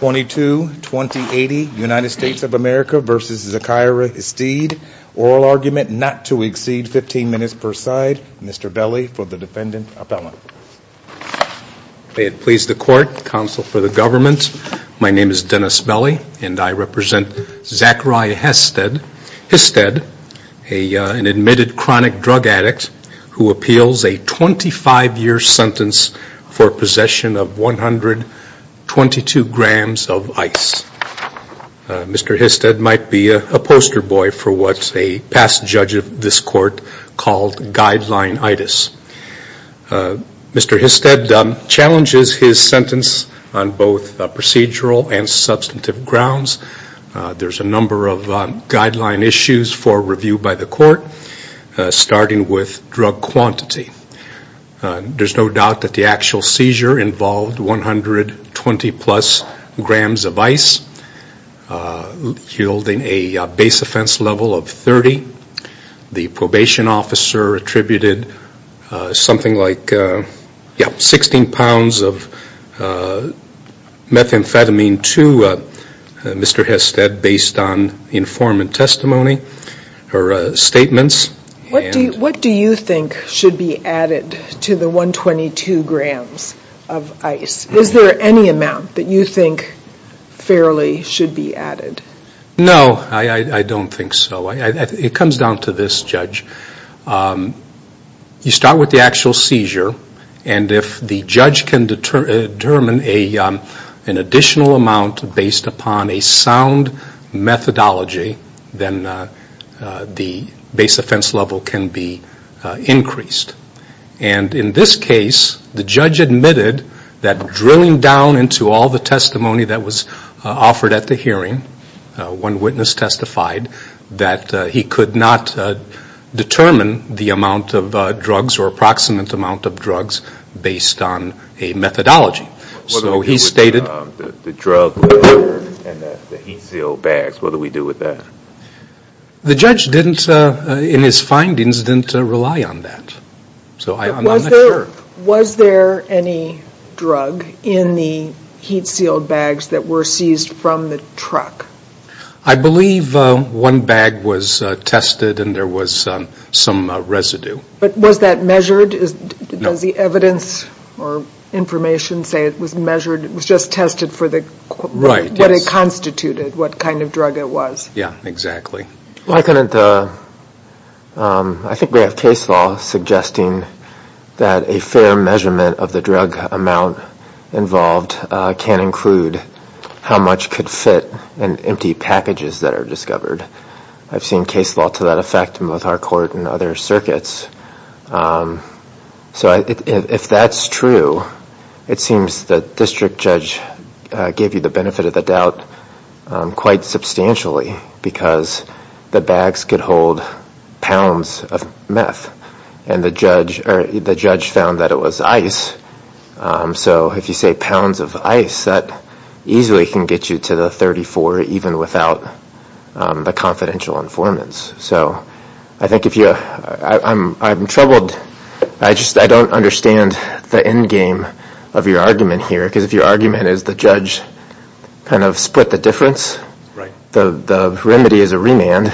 22-2080 United States of America v. Zachariah Histed Oral argument not to exceed 15 minutes per side. Mr. Belli for the defendant appellant. May it please the court, counsel for the government, my name is Dennis Belli and I represent Zachariah Histed, an admitted chronic drug addict who appeals a 25-year sentence for possession of 122 grams of ice. Mr. Histed might be a poster boy for what a past judge of this court called guideline-itis. Mr. Histed challenges his sentence on both procedural and substantive grounds. There's a number of guideline issues for review by the court, starting with drug quantity. There's no doubt that the actual seizure involved 120 plus grams of ice, yielding a base offense level of 30. The probation officer attributed something like 16 pounds of methamphetamine to Mr. Histed based on informant testimony or statements. What do you think should be added to the 122 grams of ice? Is there any amount that you think fairly should be added? No, I don't think so. It comes down to this, Judge. You start with the actual seizure and if the judge can determine an additional amount based upon a sound methodology, then the base offense level can be increased. And in this case, the judge admitted that drilling down into all the testimony that was offered at the hearing, one witness testified that he could not determine the amount of drugs or approximate amount of drugs based on a methodology. So he stated... The drug and the heat-sealed bags, what do we do with that? The judge didn't, in his findings, didn't rely on that. Was there any drug in the heat-sealed bags that were seized from the truck? I believe one bag was tested and there was some residue. But was that measured? Does the evidence or information say it was measured? It was just tested for what it constituted, what kind of drug it was? Yeah, exactly. Well, I couldn't... I think we have case law suggesting that a fair measurement of the drug amount involved can include how much could fit in empty packages that are discovered. I've seen case law to that effect in both our court and other circuits. So if that's true, it seems the district judge gave you the benefit of the doubt quite substantially because the bags could hold pounds of meth. And the judge found that it was ice. So if you say pounds of ice, that easily can get you to the 34 even without the confidential informants. So I think if you... I'm troubled. I just don't understand the endgame of your argument here because if your argument is the judge kind of split the difference, the remedy is a remand,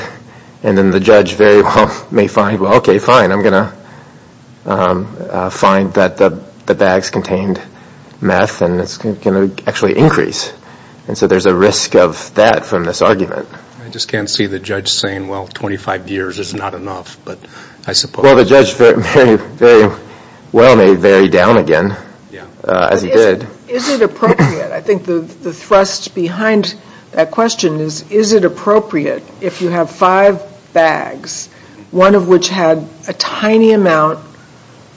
and then the judge very well may find, well, okay, fine, I'm going to find that the bags contained meth and it's going to actually increase. And so there's a risk of that from this argument. I just can't see the judge saying, well, 25 years is not enough, but I suppose... Well, the judge very well may vary down again as he did. Is it appropriate? I think the thrust behind that question is, is it appropriate if you have five bags, one of which had a tiny amount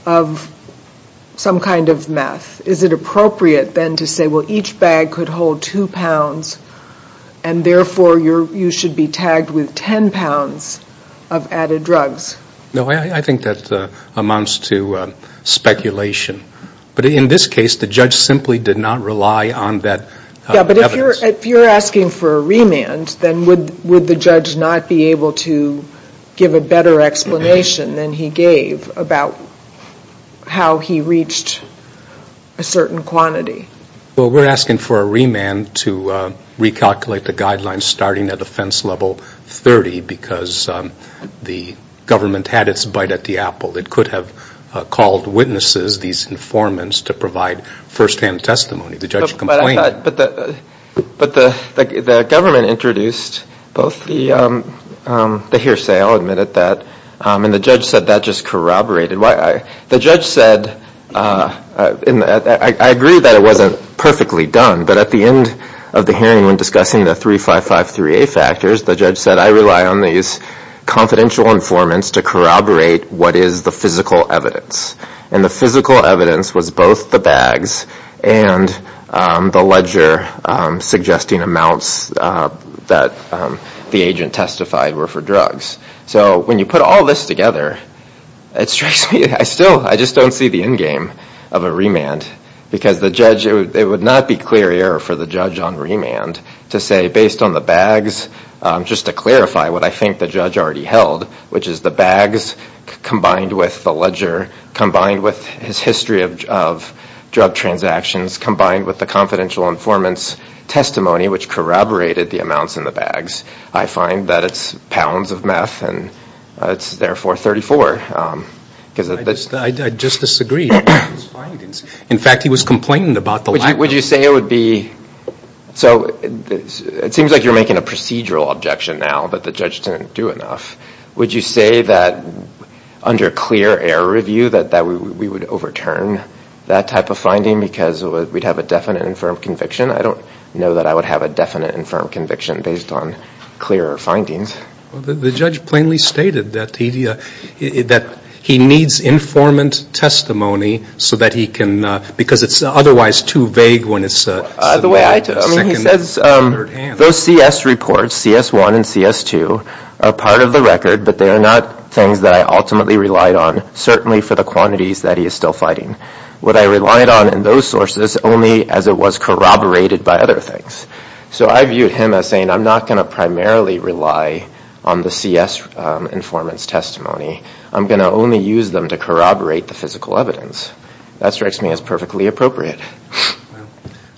of some kind of meth, is it appropriate then to say, well, each bag could hold two pounds and therefore you should be tagged with 10 pounds of added drugs? No, I think that amounts to speculation. But in this case, the judge simply did not rely on that evidence. Yeah, but if you're asking for a remand, then would the judge not be able to give a better explanation than he gave about how he reached a certain quantity? Well, we're asking for a remand to recalculate the guidelines starting at offense level 30 because the government had its bite at the apple. It could have called witnesses, these informants, to provide firsthand testimony. The judge complained. But the government introduced both the hearsay, I'll admit it, and the judge said that just corroborated. The judge said, and I agree that it wasn't perfectly done, but at the end of the hearing when discussing the 3553A factors, the judge said, I rely on these confidential informants to corroborate what is the physical evidence. And the physical evidence was both the bags and the ledger suggesting amounts that the agent testified were for drugs. So when you put all this together, it strikes me, I still, I just don't see the end game of a remand because the judge, it would not be clear error for the judge on remand to say based on the bags, just to clarify what I think the judge already held, which is the bags combined with the ledger, combined with his history of drug transactions, combined with the confidential informants' testimony, which corroborated the amounts in the bags. I find that it's pounds of meth and it's therefore 34. I just disagree. In fact, he was complaining about the lack. Would you say it would be, so it seems like you're making a procedural objection now, but the judge didn't do enough. Would you say that under clear error review that we would overturn that type of finding because we'd have a definite and firm conviction? I don't know that I would have a definite and firm conviction based on clearer findings. The judge plainly stated that he needs informant testimony so that he can, because it's otherwise too vague when it's the second or third hand. Those CS reports, CS1 and CS2, are part of the record, but they are not things that I ultimately relied on, certainly for the quantities that he is still fighting. What I relied on in those sources only as it was corroborated by other things. So I viewed him as saying I'm not going to primarily rely on the CS informant's testimony. I'm going to only use them to corroborate the physical evidence. That strikes me as perfectly appropriate.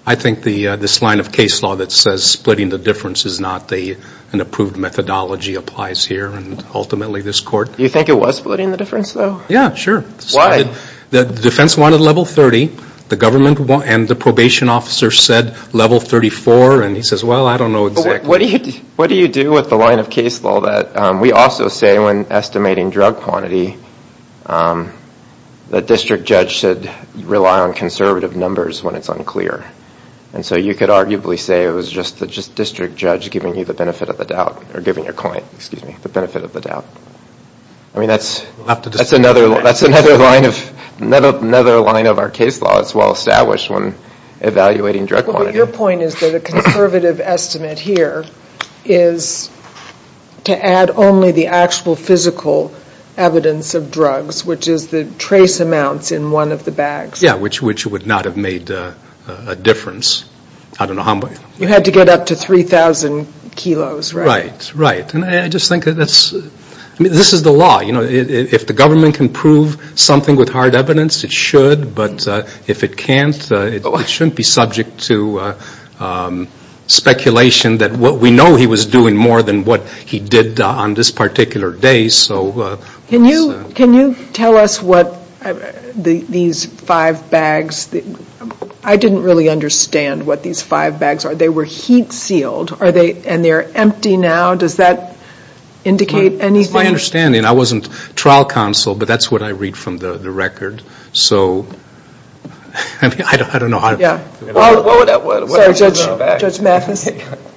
I think this line of case law that says splitting the difference is not an approved methodology applies here and ultimately this court. You think it was splitting the difference though? Yeah, sure. Why? The defense wanted level 30, the government and the probation officer said level 34, and he says, well, I don't know exactly. What do you do with the line of case law that we also say when estimating drug quantity that district judge should rely on conservative numbers when it's unclear? So you could arguably say it was just the district judge giving you the benefit of the doubt, or giving your client the benefit of the doubt. I mean, that's another line of our case law. It's well established when evaluating drug quantity. Your point is that a conservative estimate here is to add only the actual physical evidence of drugs, which is the trace amounts in one of the bags. Yeah, which would not have made a difference. You had to get up to 3,000 kilos, right? Right. And I just think this is the law. If the government can prove something with hard evidence, it should, but if it can't, it shouldn't be subject to speculation that we know he was doing more than what he did on this particular day. Can you tell us what these five bags, I didn't really understand what these five bags are. They were heat sealed, and they're empty now? Does that indicate anything? That's my understanding. I wasn't trial counsel, but that's what I read from the record. So I don't know. Sorry, Judge Mathis.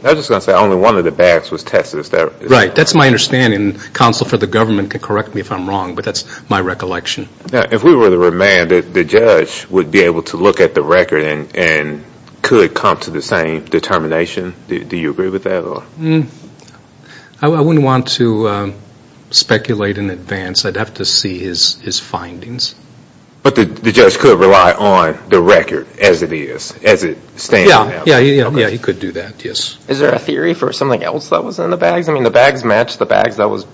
I was just going to say only one of the bags was tested. Right. That's my understanding. Counsel for the government can correct me if I'm wrong, but that's my recollection. If we were to remand it, the judge would be able to look at the record and could come to the same determination. Do you agree with that? I wouldn't want to speculate in advance. I'd have to see his findings. But the judge could rely on the record as it is, as it stands now. Yeah, he could do that, yes. Is there a theory for something else that was in the bags? I mean, the bags match the bags that was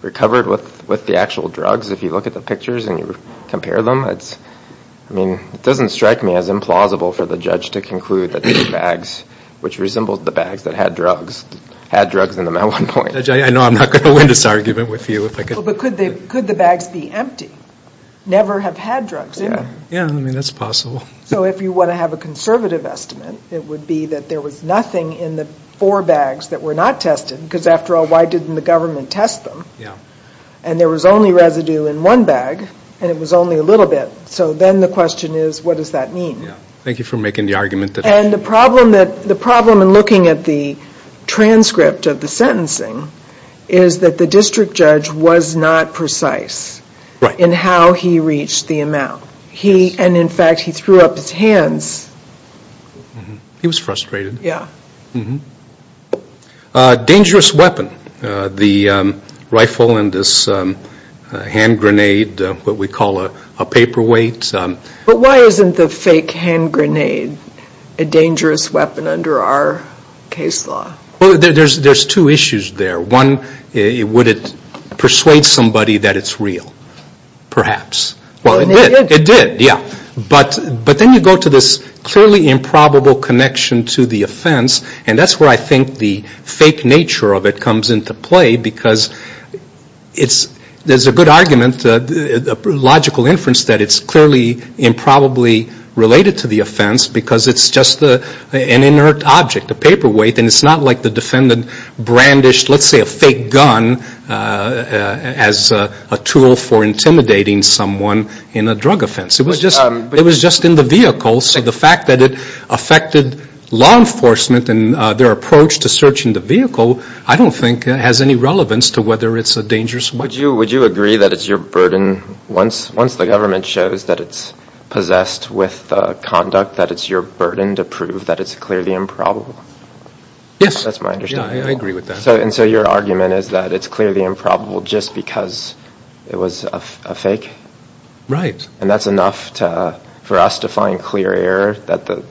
recovered with the actual drugs. If you look at the pictures and you compare them, it doesn't strike me as implausible for the judge to conclude that these bags, which resembled the bags that had drugs, had drugs in them at one point. Judge, I know I'm not going to win this argument with you. But could the bags be empty, never have had drugs in them? Yeah, I mean, that's possible. So if you want to have a conservative estimate, it would be that there was nothing in the four bags that were not tested, because after all, why didn't the government test them? And there was only residue in one bag, and it was only a little bit. So then the question is, what does that mean? Thank you for making the argument. And the problem in looking at the transcript of the sentencing is that the district judge was not precise in how he reached the amount. And, in fact, he threw up his hands. He was frustrated. Yeah. Dangerous weapon. The rifle and this hand grenade, what we call a paperweight. But why isn't the fake hand grenade a dangerous weapon under our case law? Well, there's two issues there. One, would it persuade somebody that it's real? Perhaps. Well, it did. It did, yeah. But then you go to this clearly improbable connection to the offense, and that's where I think the fake nature of it comes into play, because there's a good argument, a logical inference, that it's clearly improbably related to the offense, because it's just an inert object, a paperweight, and it's not like the defendant brandished, let's say, a fake gun as a tool for intimidating someone in a drug offense. It was just in the vehicle, so the fact that it affected law enforcement and their approach to searching the vehicle, I don't think has any relevance to whether it's a dangerous weapon. Would you agree that it's your burden, once the government shows that it's possessed with conduct, that it's your burden to prove that it's clearly improbable? Yes. That's my understanding. Yeah, I agree with that. And so your argument is that it's clearly improbable just because it was a fake? Right. And that's enough for us to find clear error that it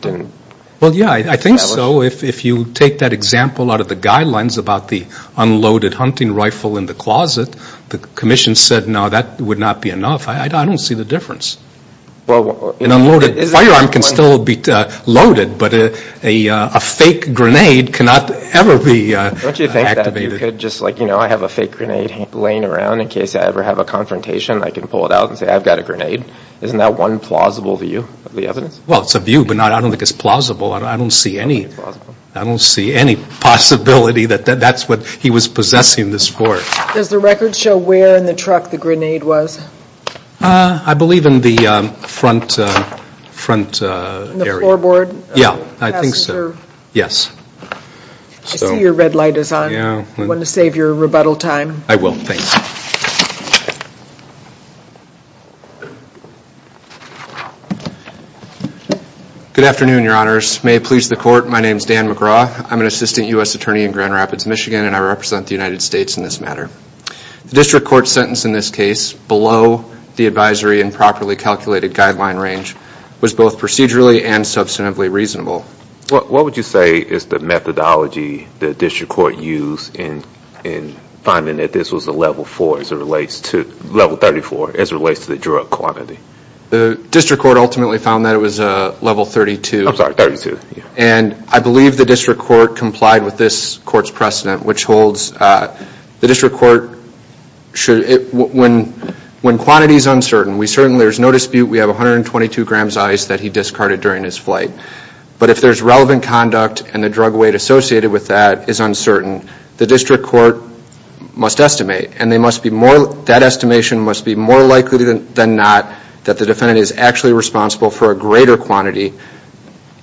didn't establish? Well, yeah, I think so. If you take that example out of the guidelines about the unloaded hunting rifle in the closet, the commission said, no, that would not be enough. I don't see the difference. An unloaded firearm can still be loaded, but a fake grenade cannot ever be activated. Don't you think that you could just, like, you know, if I have a fake grenade laying around in case I ever have a confrontation, I can pull it out and say, I've got a grenade? Isn't that one plausible view of the evidence? Well, it's a view, but I don't think it's plausible. I don't see any possibility that that's what he was possessing this for. Does the record show where in the truck the grenade was? I believe in the front area. In the floorboard? Yeah, I think so. I see your red light is on. You want to save your rebuttal time? I will, thanks. Good afternoon, Your Honors. May it please the Court, my name is Dan McGraw. I'm an assistant U.S. attorney in Grand Rapids, Michigan, and I represent the United States in this matter. The district court sentence in this case, below the advisory and properly calculated guideline range, was both procedurally and substantively reasonable. What would you say is the methodology the district court used in finding that this was a level 34 as it relates to the drug quantity? The district court ultimately found that it was a level 32. I'm sorry, 32. And I believe the district court complied with this court's precedent, which holds the district court, when quantity is uncertain, there's no dispute we have 122 grams of ice that he discarded during his flight. But if there's relevant conduct and the drug weight associated with that is uncertain, the district court must estimate. And that estimation must be more likely than not that the defendant is actually responsible for a greater quantity,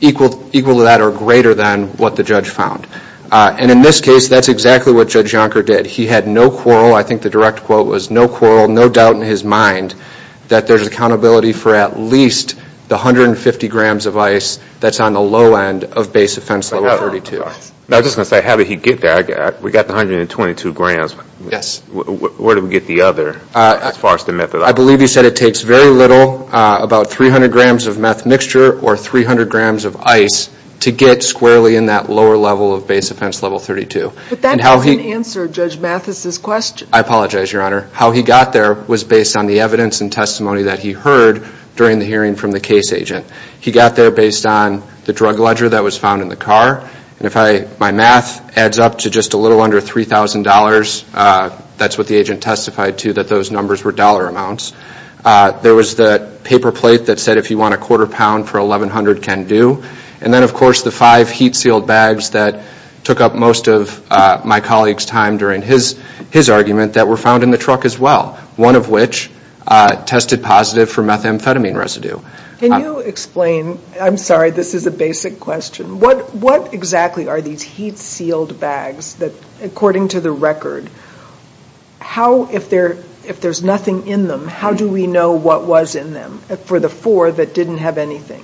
equal to that or greater than what the judge found. And in this case, that's exactly what Judge Jonker did. He had no quarrel. I think the direct quote was no quarrel, no doubt in his mind, that there's accountability for at least the 150 grams of ice that's on the low end of base offense level 32. I was just going to say, how did he get that? We got the 122 grams. Yes. Where did we get the other as far as the methodology? I believe you said it takes very little, about 300 grams of meth mixture or 300 grams of ice to get squarely in that lower level of base offense level 32. But that doesn't answer Judge Mathis' question. I apologize, Your Honor. How he got there was based on the evidence and testimony that he heard during the hearing from the case agent. He got there based on the drug ledger that was found in the car. And if my math adds up to just a little under $3,000, that's what the agent testified to, that those numbers were dollar amounts. There was the paper plate that said, if you want a quarter pound for $1,100, can do. And then, of course, the five heat-sealed bags that took up most of my colleague's time during his argument that were found in the truck as well, one of which tested positive for methamphetamine residue. Can you explain? I'm sorry, this is a basic question. What exactly are these heat-sealed bags that, according to the record, how, if there's nothing in them, how do we know what was in them for the four that didn't have anything?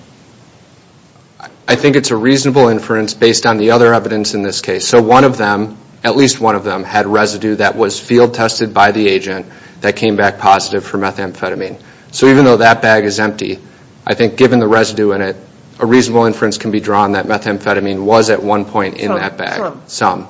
I think it's a reasonable inference based on the other evidence in this case. So one of them, at least one of them, had residue that was field tested by the agent that came back positive for methamphetamine. So even though that bag is empty, I think given the residue in it, a reasonable inference can be drawn that methamphetamine was at one point in that bag. Some.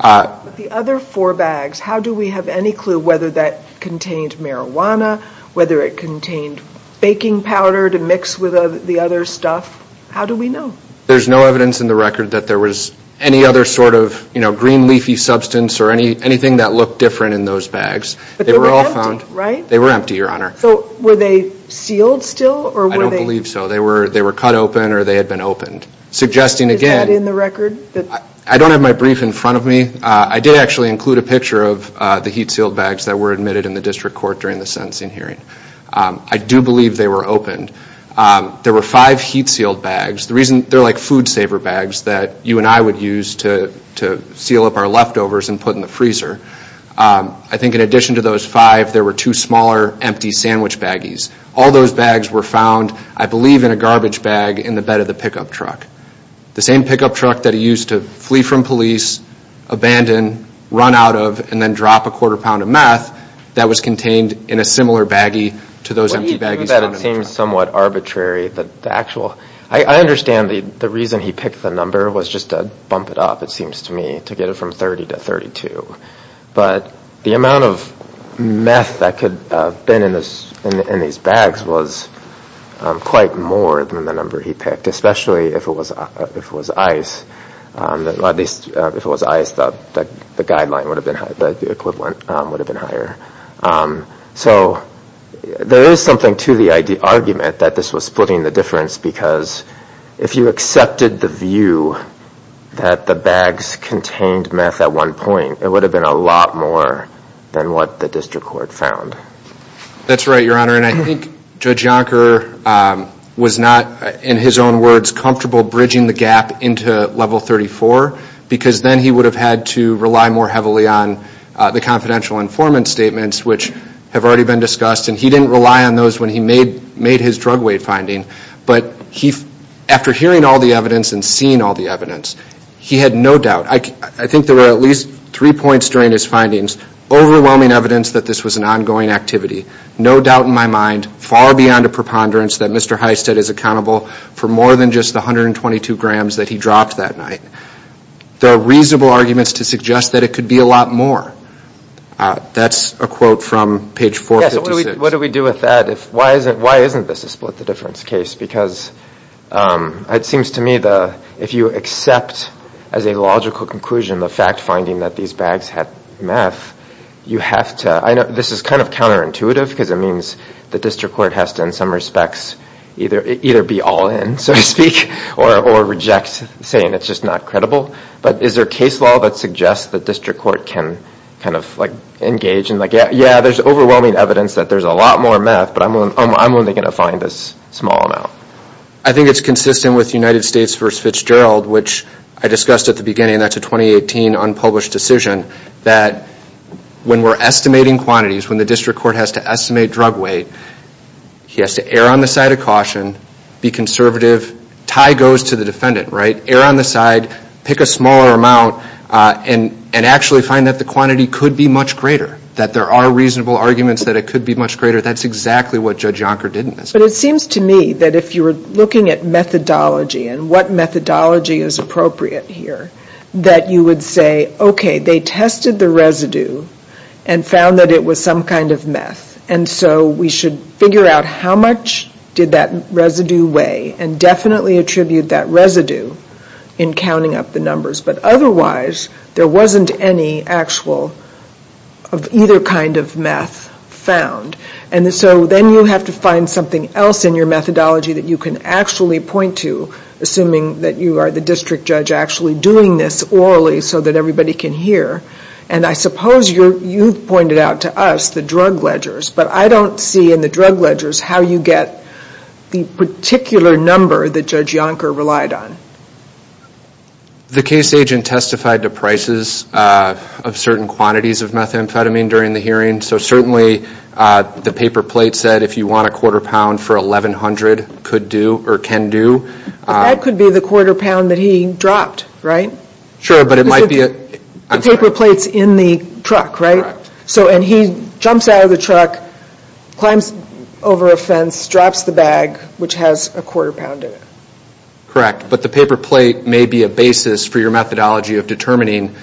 The other four bags, how do we have any clue whether that contained marijuana, whether it contained baking powder to mix with the other stuff? How do we know? There's no evidence in the record that there was any other sort of, you know, green leafy substance or anything that looked different in those bags. But they were all found. They were all found. Right? They were empty, Your Honor. So were they sealed still? I don't believe so. They were cut open or they had been opened. Suggesting again. Is that in the record? I don't have my brief in front of me. I did actually include a picture of the heat-sealed bags that were admitted in the district court during the sentencing hearing. I do believe they were opened. There were five heat-sealed bags. They're like food-saver bags that you and I would use to seal up our leftovers and put in the freezer. I think in addition to those five, there were two smaller empty sandwich baggies. All those bags were found, I believe, in a garbage bag in the bed of the pickup truck. The same pickup truck that he used to flee from police, abandon, run out of, and then drop a quarter pound of meth, that was contained in a similar baggie to those empty baggies. I guess that it seems somewhat arbitrary. I understand the reason he picked the number was just to bump it up, it seems to me, to get it from 30 to 32. But the amount of meth that could have been in these bags was quite more than the number he picked, especially if it was ice. If it was ice, the equivalent would have been higher. So there is something to the argument that this was splitting the difference because if you accepted the view that the bags contained meth at one point, it would have been a lot more than what the district court found. That's right, Your Honor, and I think Judge Yonker was not, in his own words, comfortable bridging the gap into Level 34 because then he would have had to rely more heavily on the confidential informant statements, which have already been discussed, and he didn't rely on those when he made his drug weight finding. But after hearing all the evidence and seeing all the evidence, he had no doubt. I think there were at least three points during his findings, overwhelming evidence that this was an ongoing activity, no doubt in my mind, far beyond a preponderance that Mr. Hysted is accountable for more than just the 122 grams that he dropped that night. There are reasonable arguments to suggest that it could be a lot more. That's a quote from page 456. Yes, what do we do with that? Why isn't this a split the difference case? Because it seems to me if you accept as a logical conclusion the fact finding that these bags had meth, you have to, I know this is kind of counterintuitive because it means the district court has to, in some respects, either be all in, so to speak, or reject saying it's just not credible. But is there case law that suggests the district court can engage in, yeah, there's overwhelming evidence that there's a lot more meth, but I'm only going to find this small amount. I think it's consistent with United States v. Fitzgerald, which I discussed at the beginning. That's a 2018 unpublished decision that when we're estimating quantities, when the district court has to estimate drug weight, he has to err on the side of caution, be conservative, tie goes to the defendant, right? Err on the side, pick a smaller amount, and actually find that the quantity could be much greater, that there are reasonable arguments that it could be much greater. That's exactly what Judge Yonker did in this case. But it seems to me that if you were looking at methodology and what methodology is appropriate here, that you would say, okay, they tested the residue and found that it was some kind of meth, and so we should figure out how much did that residue weigh, and definitely attribute that residue in counting up the numbers. But otherwise, there wasn't any actual of either kind of meth found. And so then you have to find something else in your methodology that you can actually point to, assuming that you are the district judge actually doing this orally so that everybody can hear. And I suppose you pointed out to us the drug ledgers, but I don't see in the drug ledgers how you get the particular number that Judge Yonker relied on. The case agent testified to prices of certain quantities of methamphetamine during the hearing, so certainly the paper plate said if you want a quarter pound for $1,100, could do or can do. That could be the quarter pound that he dropped, right? Sure, but it might be a, I'm sorry. The paper plate's in the truck, right? So, and he jumps out of the truck, climbs over a fence, drops the bag, which has a quarter pound in it. Correct, but the paper plate may be a basis for your methodology of determining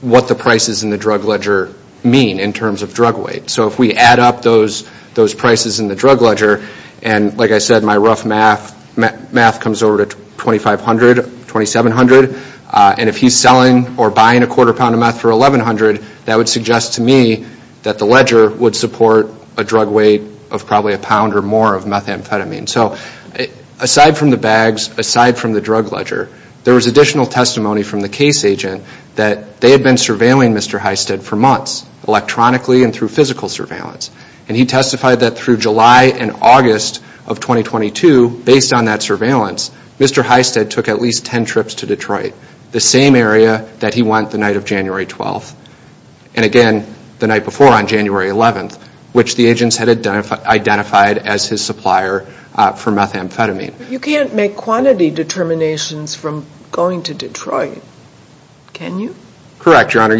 what the prices in the drug ledger mean in terms of drug weight. So if we add up those prices in the drug ledger, and like I said, my rough math, my rough math comes over to $2,500, $2,700, and if he's selling or buying a quarter pound of meth for $1,100, that would suggest to me that the ledger would support a drug weight of probably a pound or more of methamphetamine. So aside from the bags, aside from the drug ledger, there was additional testimony from the case agent that they had been surveilling Mr. Hysted for months, electronically and through physical surveillance. And he testified that through July and August of 2022, based on that surveillance, Mr. Hysted took at least 10 trips to Detroit, the same area that he went the night of January 12th, and again, the night before on January 11th, which the agents had identified as his supplier for methamphetamine. You can't make quantity determinations from going to Detroit, can you? Correct, Your Honor,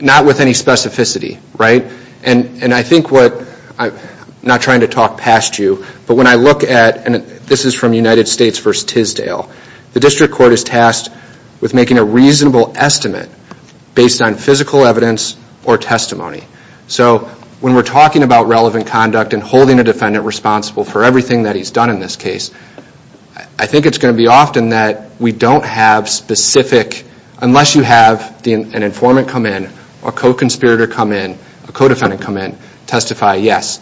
not with any specificity, right? And I think what, I'm not trying to talk past you, but when I look at, and this is from United States v. Tisdale, the district court is tasked with making a reasonable estimate based on physical evidence or testimony. So when we're talking about relevant conduct and holding a defendant responsible for everything that he's done in this case, I think it's going to be often that we don't have specific, unless you have an informant come in, a co-conspirator come in, a co-defendant come in, testify, yes,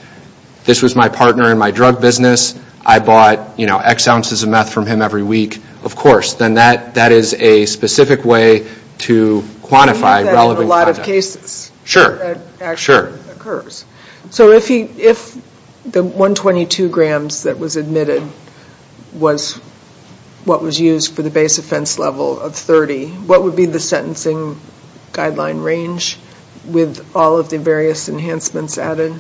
this was my partner in my drug business. I bought, you know, X ounces of meth from him every week. Of course, then that is a specific way to quantify relevant conduct. I know that in a lot of cases, that actually occurs. So if the 122 grams that was admitted was what was used for the base offense level of 30, what would be the sentencing guideline range with all of the various enhancements added?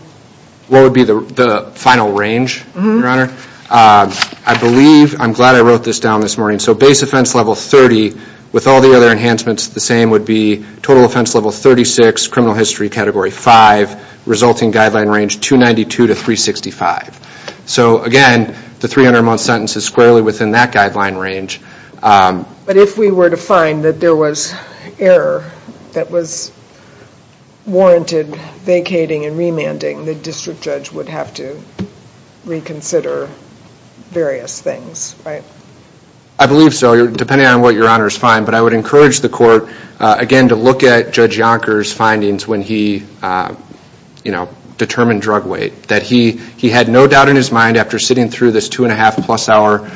What would be the final range, Your Honor? I believe, I'm glad I wrote this down this morning. So base offense level 30 with all the other enhancements the same would be total offense level 36, criminal history category 5, resulting guideline range 292 to 365. So again, the 300 month sentence is squarely within that guideline range. But if we were to find that there was error that was warranted vacating and remanding, the district judge would have to reconsider various things, right? I believe so, depending on what Your Honor's find. But I would encourage the court, again, to look at Judge Yonker's findings when he, you know, determined drug weight. That he had no doubt in his mind after sitting through this two and a half plus hour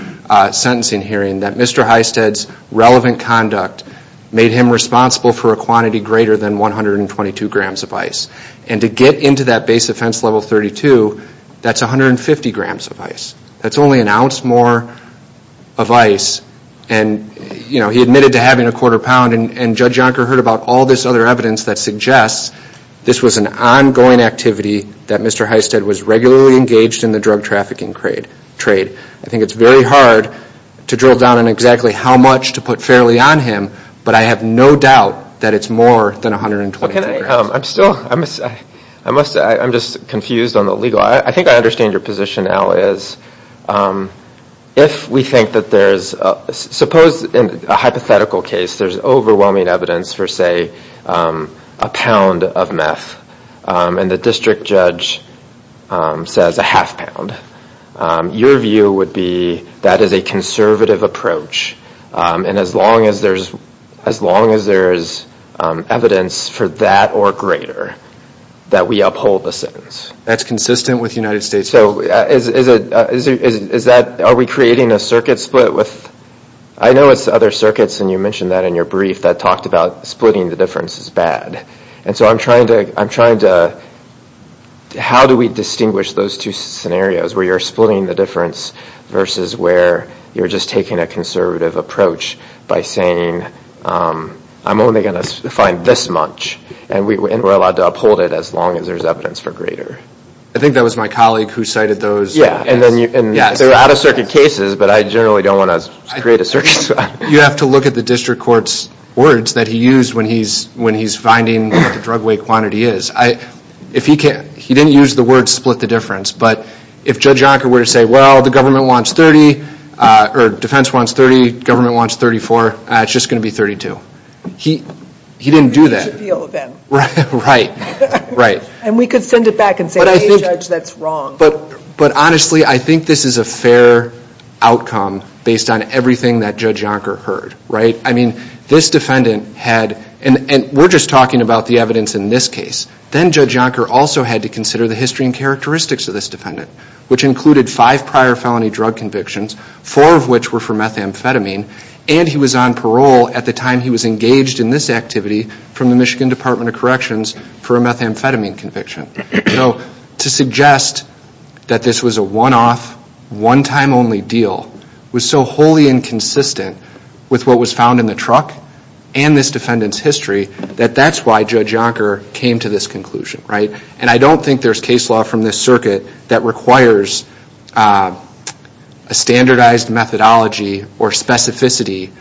sentencing hearing that Mr. Hysted's relevant conduct made him responsible for a quantity greater than 122 grams of ice. And to get into that base offense level 32, that's 150 grams of ice. That's only an ounce more of ice. And, you know, he admitted to having a quarter pound, and Judge Yonker heard about all this other evidence that suggests this was an ongoing activity that Mr. Hysted was regularly engaged in the drug trafficking trade. I think it's very hard to drill down on exactly how much to put fairly on him, but I have no doubt that it's more than 122 grams. I'm still, I must say, I'm just confused on the legal. I think I understand your position, Al, is if we think that there's, suppose in a hypothetical case, there's overwhelming evidence for, say, a pound of meth. And the district judge says a half pound. Your view would be that is a conservative approach. And as long as there's evidence for that or greater, that we uphold the sentence. That's consistent with the United States. So is that, are we creating a circuit split with, I know it's other circuits, and you mentioned that in your brief that talked about splitting the difference is bad. And so I'm trying to, how do we distinguish those two scenarios where you're splitting the difference versus where you're just taking a conservative approach by saying I'm only going to find this much and we're allowed to uphold it as long as there's evidence for greater. I think that was my colleague who cited those. Yeah, and they're out of circuit cases, but I generally don't want to create a circuit split. You have to look at the district court's words that he used when he's finding what the drug weight quantity is. If he can't, he didn't use the word split the difference. But if Judge Yonker were to say, well, the government wants 30, or defense wants 30, government wants 34, it's just going to be 32. He didn't do that. We could use appeal then. Right, right. And we could send it back and say, hey, judge, that's wrong. But honestly, I think this is a fair outcome based on everything that Judge Yonker heard, right? I mean, this defendant had, and we're just talking about the evidence in this case. Then Judge Yonker also had to consider the history and characteristics of this defendant, which included five prior felony drug convictions, four of which were for methamphetamine, and he was on parole at the time he was engaged in this activity from the Michigan Department of Corrections for a methamphetamine conviction. So to suggest that this was a one-off, one-time-only deal was so wholly inconsistent with what was found in the truck and this defendant's history that that's why Judge Yonker came to this conclusion, right? And I don't think there's case law from this circuit that requires a standardized methodology or specificity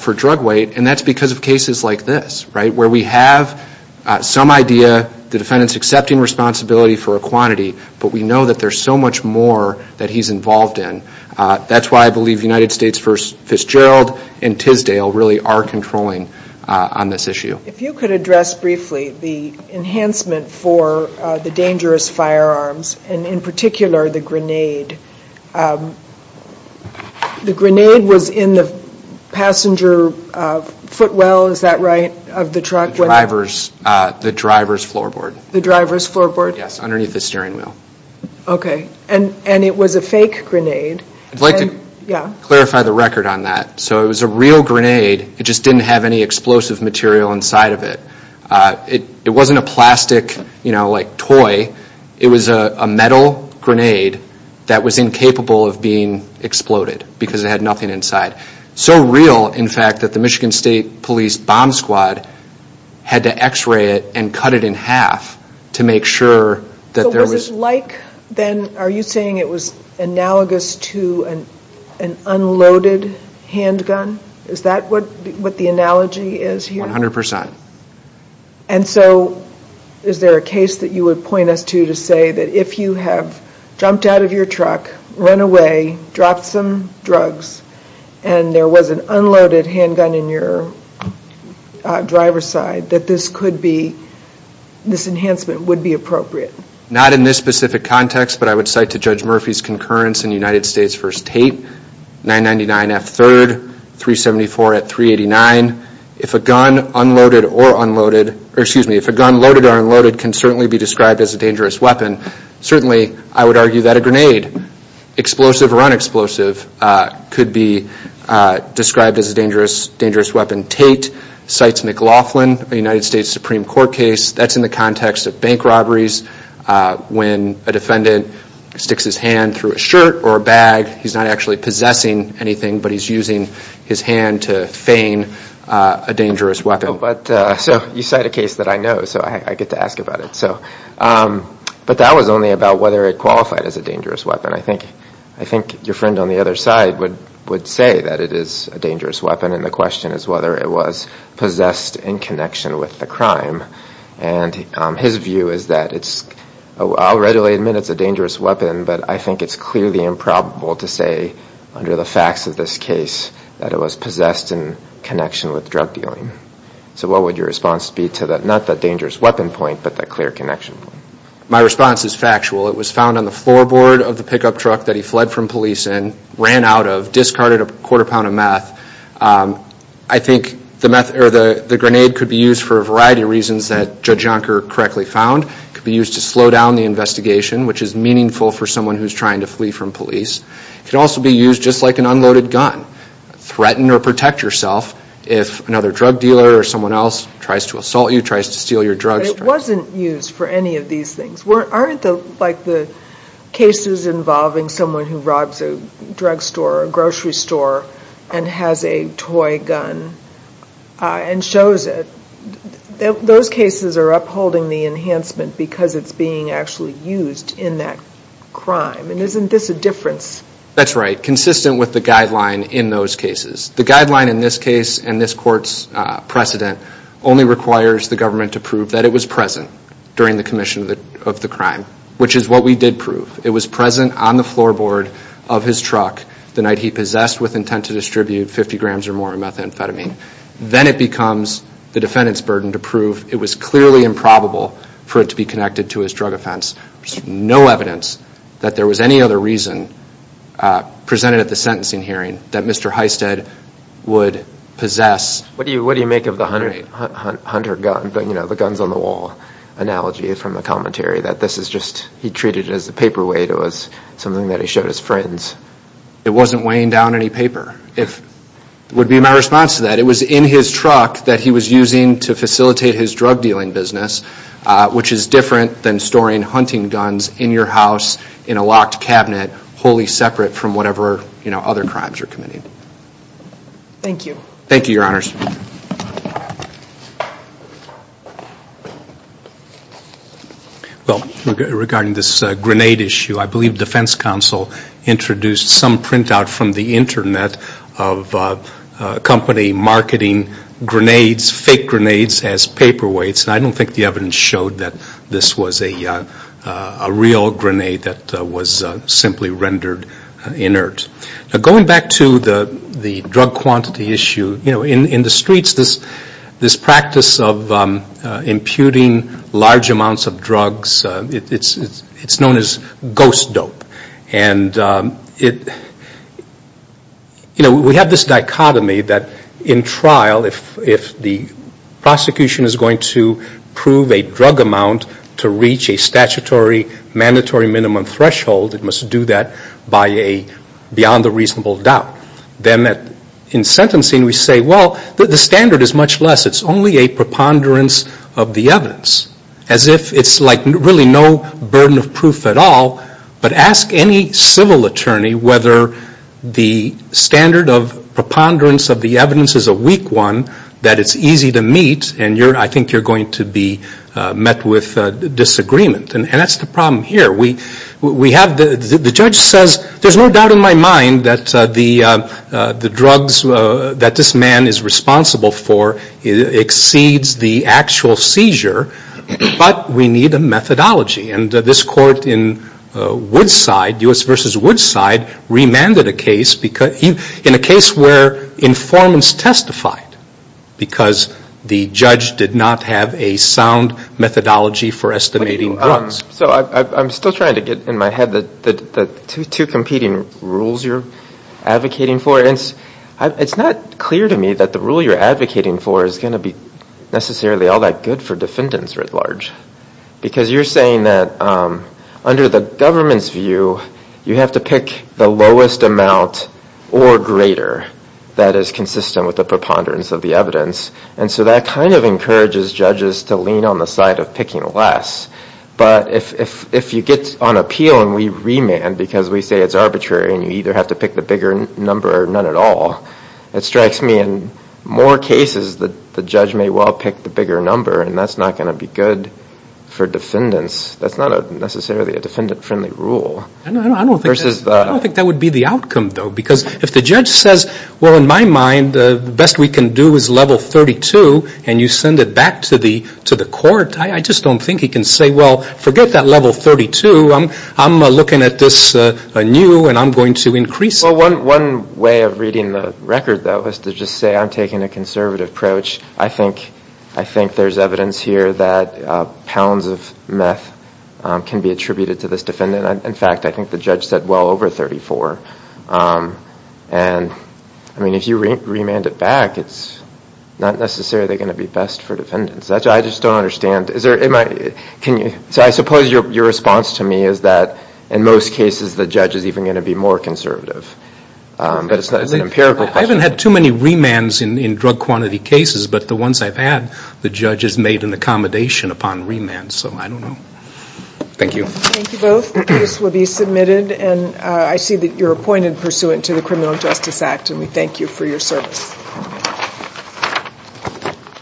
for drug weight, and that's because of cases like this, right, where we have some idea, the defendant's accepting responsibility for a quantity, but we know that there's so much more that he's involved in. That's why I believe United States v. Fitzgerald and Tisdale really are controlling on this issue. If you could address briefly the enhancement for the dangerous firearms, and in particular the grenade. The grenade was in the passenger footwell, is that right, of the truck? The driver's floorboard. The driver's floorboard? Yes, underneath the steering wheel. Okay, and it was a fake grenade. I'd like to clarify the record on that. So it was a real grenade. It just didn't have any explosive material inside of it. It wasn't a plastic, you know, like toy. It was a metal grenade that was incapable of being exploded because it had nothing inside. So real, in fact, that the Michigan State Police Bomb Squad had to X-ray it and cut it in half to make sure that there was... So was it like, then, are you saying it was analogous to an unloaded handgun? Is that what the analogy is here? 100%. And so is there a case that you would point us to to say that if you have jumped out of your truck, run away, dropped some drugs, and there was an unloaded handgun in your driver's side, that this could be, this enhancement would be appropriate? Not in this specific context, but I would cite to Judge Murphy's concurrence in United States v. Tate, 999F3rd, 374 at 389. If a gun loaded or unloaded can certainly be described as a dangerous weapon, certainly I would argue that a grenade, explosive or unexplosive, could be described as a dangerous weapon. Tate cites McLaughlin, a United States Supreme Court case. That's in the context of bank robberies. When a defendant sticks his hand through a shirt or a bag, he's not actually possessing anything, but he's using his hand to feign a dangerous weapon. So you cite a case that I know, so I get to ask about it. But that was only about whether it qualified as a dangerous weapon. I think your friend on the other side would say that it is a dangerous weapon, and the question is whether it was possessed in connection with the crime. And his view is that it's, I'll readily admit it's a dangerous weapon, but I think it's clearly improbable to say under the facts of this case that it was possessed in connection with drug dealing. So what would your response be to that? Not that dangerous weapon point, but that clear connection point. My response is factual. It was found on the floorboard of the pickup truck that he fled from police in, ran out of, discarded a quarter pound of meth. I think the grenade could be used for a variety of reasons that Judge Yonker correctly found. It could be used to slow down the investigation, which is meaningful for someone who's trying to flee from police. It could also be used just like an unloaded gun. Threaten or protect yourself if another drug dealer or someone else tries to assault you, tries to steal your drugs. But it wasn't used for any of these things. Aren't the cases involving someone who robs a drug store or a grocery store and has a toy gun and shows it, those cases are upholding the enhancement because it's being actually used in that crime. And isn't this a difference? That's right. Consistent with the guideline in those cases. The guideline in this case and this court's precedent only requires the government to prove that it was present during the commission of the crime, which is what we did prove. It was present on the floorboard of his truck the night he possessed with intent to distribute 50 grams or more of methamphetamine. Then it becomes the defendant's burden to prove it was clearly improbable for it to be connected to his drug offense. There's no evidence that there was any other reason presented at the sentencing hearing that Mr. Hystad would possess. What do you make of the hunter gun, the guns on the wall analogy from the commentary that this is just he treated it as a paperweight, it was something that he showed his friends? It wasn't weighing down any paper. It would be my response to that. It was in his truck that he was using to facilitate his drug dealing business, which is different than storing hunting guns in your house in a locked cabinet wholly separate from whatever other crimes you're committing. Thank you. Thank you, Your Honors. Regarding this grenade issue, I believe defense counsel introduced some printout from the Internet of a company marketing grenades, fake grenades, as paperweights. I don't think the evidence showed that this was a real grenade that was simply rendered inert. Going back to the drug quantity issue, in the streets this practice of imputing large amounts of drugs, it's known as ghost dope. We have this dichotomy that in trial, if the prosecution is going to prove a drug amount to reach a statutory mandatory minimum threshold, it must do that beyond a reasonable doubt. Then in sentencing we say, well, the standard is much less. It's only a preponderance of the evidence. As if it's really no burden of proof at all, but ask any civil attorney whether the standard of preponderance of the evidence is a weak one, that it's easy to meet, and I think you're going to be met with disagreement. And that's the problem here. The judge says, there's no doubt in my mind that the drugs that this man is responsible for exceeds the actual seizure, but we need a methodology. And this court in Woodside, U.S. v. Woodside, remanded a case, in a case where informants testified because the judge did not have a sound methodology for estimating drugs. So I'm still trying to get in my head the two competing rules you're advocating for. It's not clear to me that the rule you're advocating for is going to be necessarily all that good for defendants writ large, because you're saying that under the government's view, you have to pick the lowest amount or greater that is consistent with the preponderance of the evidence, and so that kind of encourages judges to lean on the side of picking less. But if you get on appeal and we remand because we say it's arbitrary and you either have to pick the bigger number or none at all, it strikes me in more cases that the judge may well pick the bigger number, and that's not going to be good for defendants. That's not necessarily a defendant-friendly rule. I don't think that would be the outcome, though, because if the judge says, well, in my mind, the best we can do is level 32, and you send it back to the court, I just don't think he can say, well, forget that level 32. I'm looking at this new, and I'm going to increase it. Well, one way of reading the record, though, is to just say I'm taking a conservative approach. I think there's evidence here that pounds of meth can be attributed to this defendant. In fact, I think the judge said well over 34. And, I mean, if you remand it back, it's not necessarily going to be best for defendants. I just don't understand. I suppose your response to me is that in most cases the judge is even going to be more conservative. But it's an empirical question. I haven't had too many remands in drug quantity cases, but the ones I've had the judge has made an accommodation upon remand, so I don't know. Thank you. Thank you both. The case will be submitted, and I see that you're appointed pursuant to the Criminal Justice Act, and we thank you for your service.